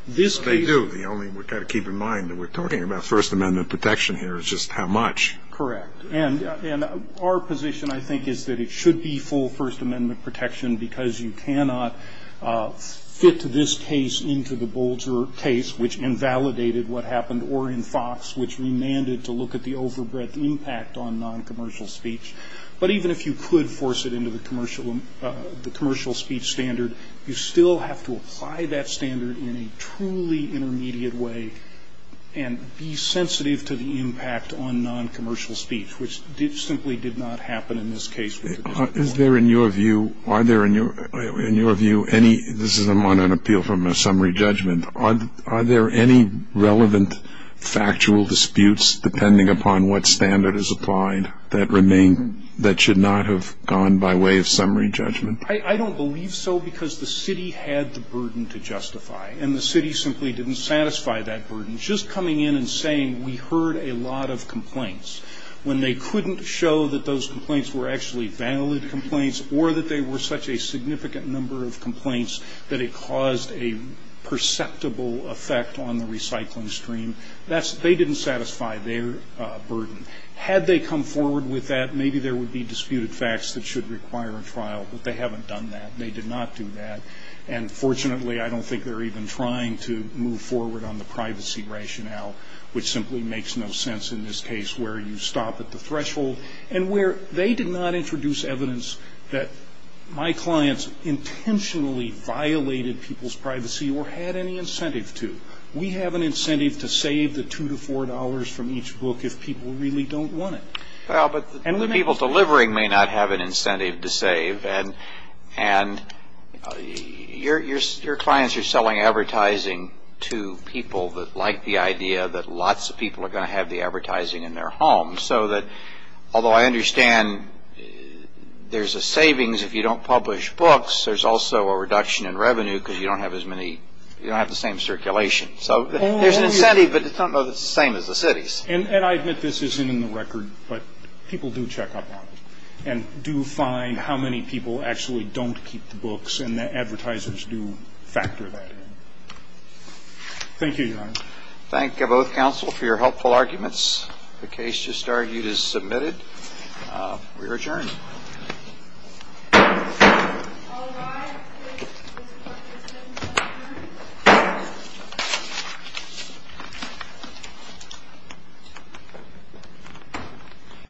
This case ---- Scalia. They do. We've got to keep in mind that we're talking about First Amendment protection here. It's just how much. Horwich. And our position, I think, is that it should be full First Amendment protection because you cannot fit this case into the Bolger case, which invalidated what happened, or in Fox, which remanded to look at the overbreadth impact on non-commercial speech. But even if you could force it into the commercial speech standard, you still have to apply that standard in a truly intermediate way and be sensitive to the impact on non-commercial speech, which simply did not happen in this case. Is there, in your view, are there, in your view, any ---- This is on an appeal from a summary judgment. Are there any relevant factual disputes, depending upon what standard is applied, that remain, that should not have gone by way of summary judgment? I don't believe so because the city had the burden to justify. And the city simply didn't satisfy that burden. Just coming in and saying, we heard a lot of complaints, when they couldn't show that those complaints were actually valid complaints or that they were such a significant number of complaints that it caused a perceptible effect on the recycling stream, they didn't satisfy their burden. Had they come forward with that, maybe there would be disputed facts that should require a trial. But they haven't done that. They did not do that. And, fortunately, I don't think they're even trying to move forward on the privacy rationale, which simply makes no sense in this case where you stop at the point where they did not introduce evidence that my clients intentionally violated people's privacy or had any incentive to. We have an incentive to save the $2 to $4 from each book if people really don't want it. Well, but the people delivering may not have an incentive to save. And your clients are selling advertising to people that like the idea that lots of people are going to have the advertising in their homes. So that, although I understand there's a savings if you don't publish books, there's also a reduction in revenue because you don't have as many – you don't have the same circulation. So there's an incentive, but it's not the same as the city's. And I admit this isn't in the record, but people do check up on it and do find how many people actually don't keep the books, and the advertisers do factor that in. Thank you, Your Honor. Thank you, both counsel, for your helpful arguments. The case just argued is submitted. We return.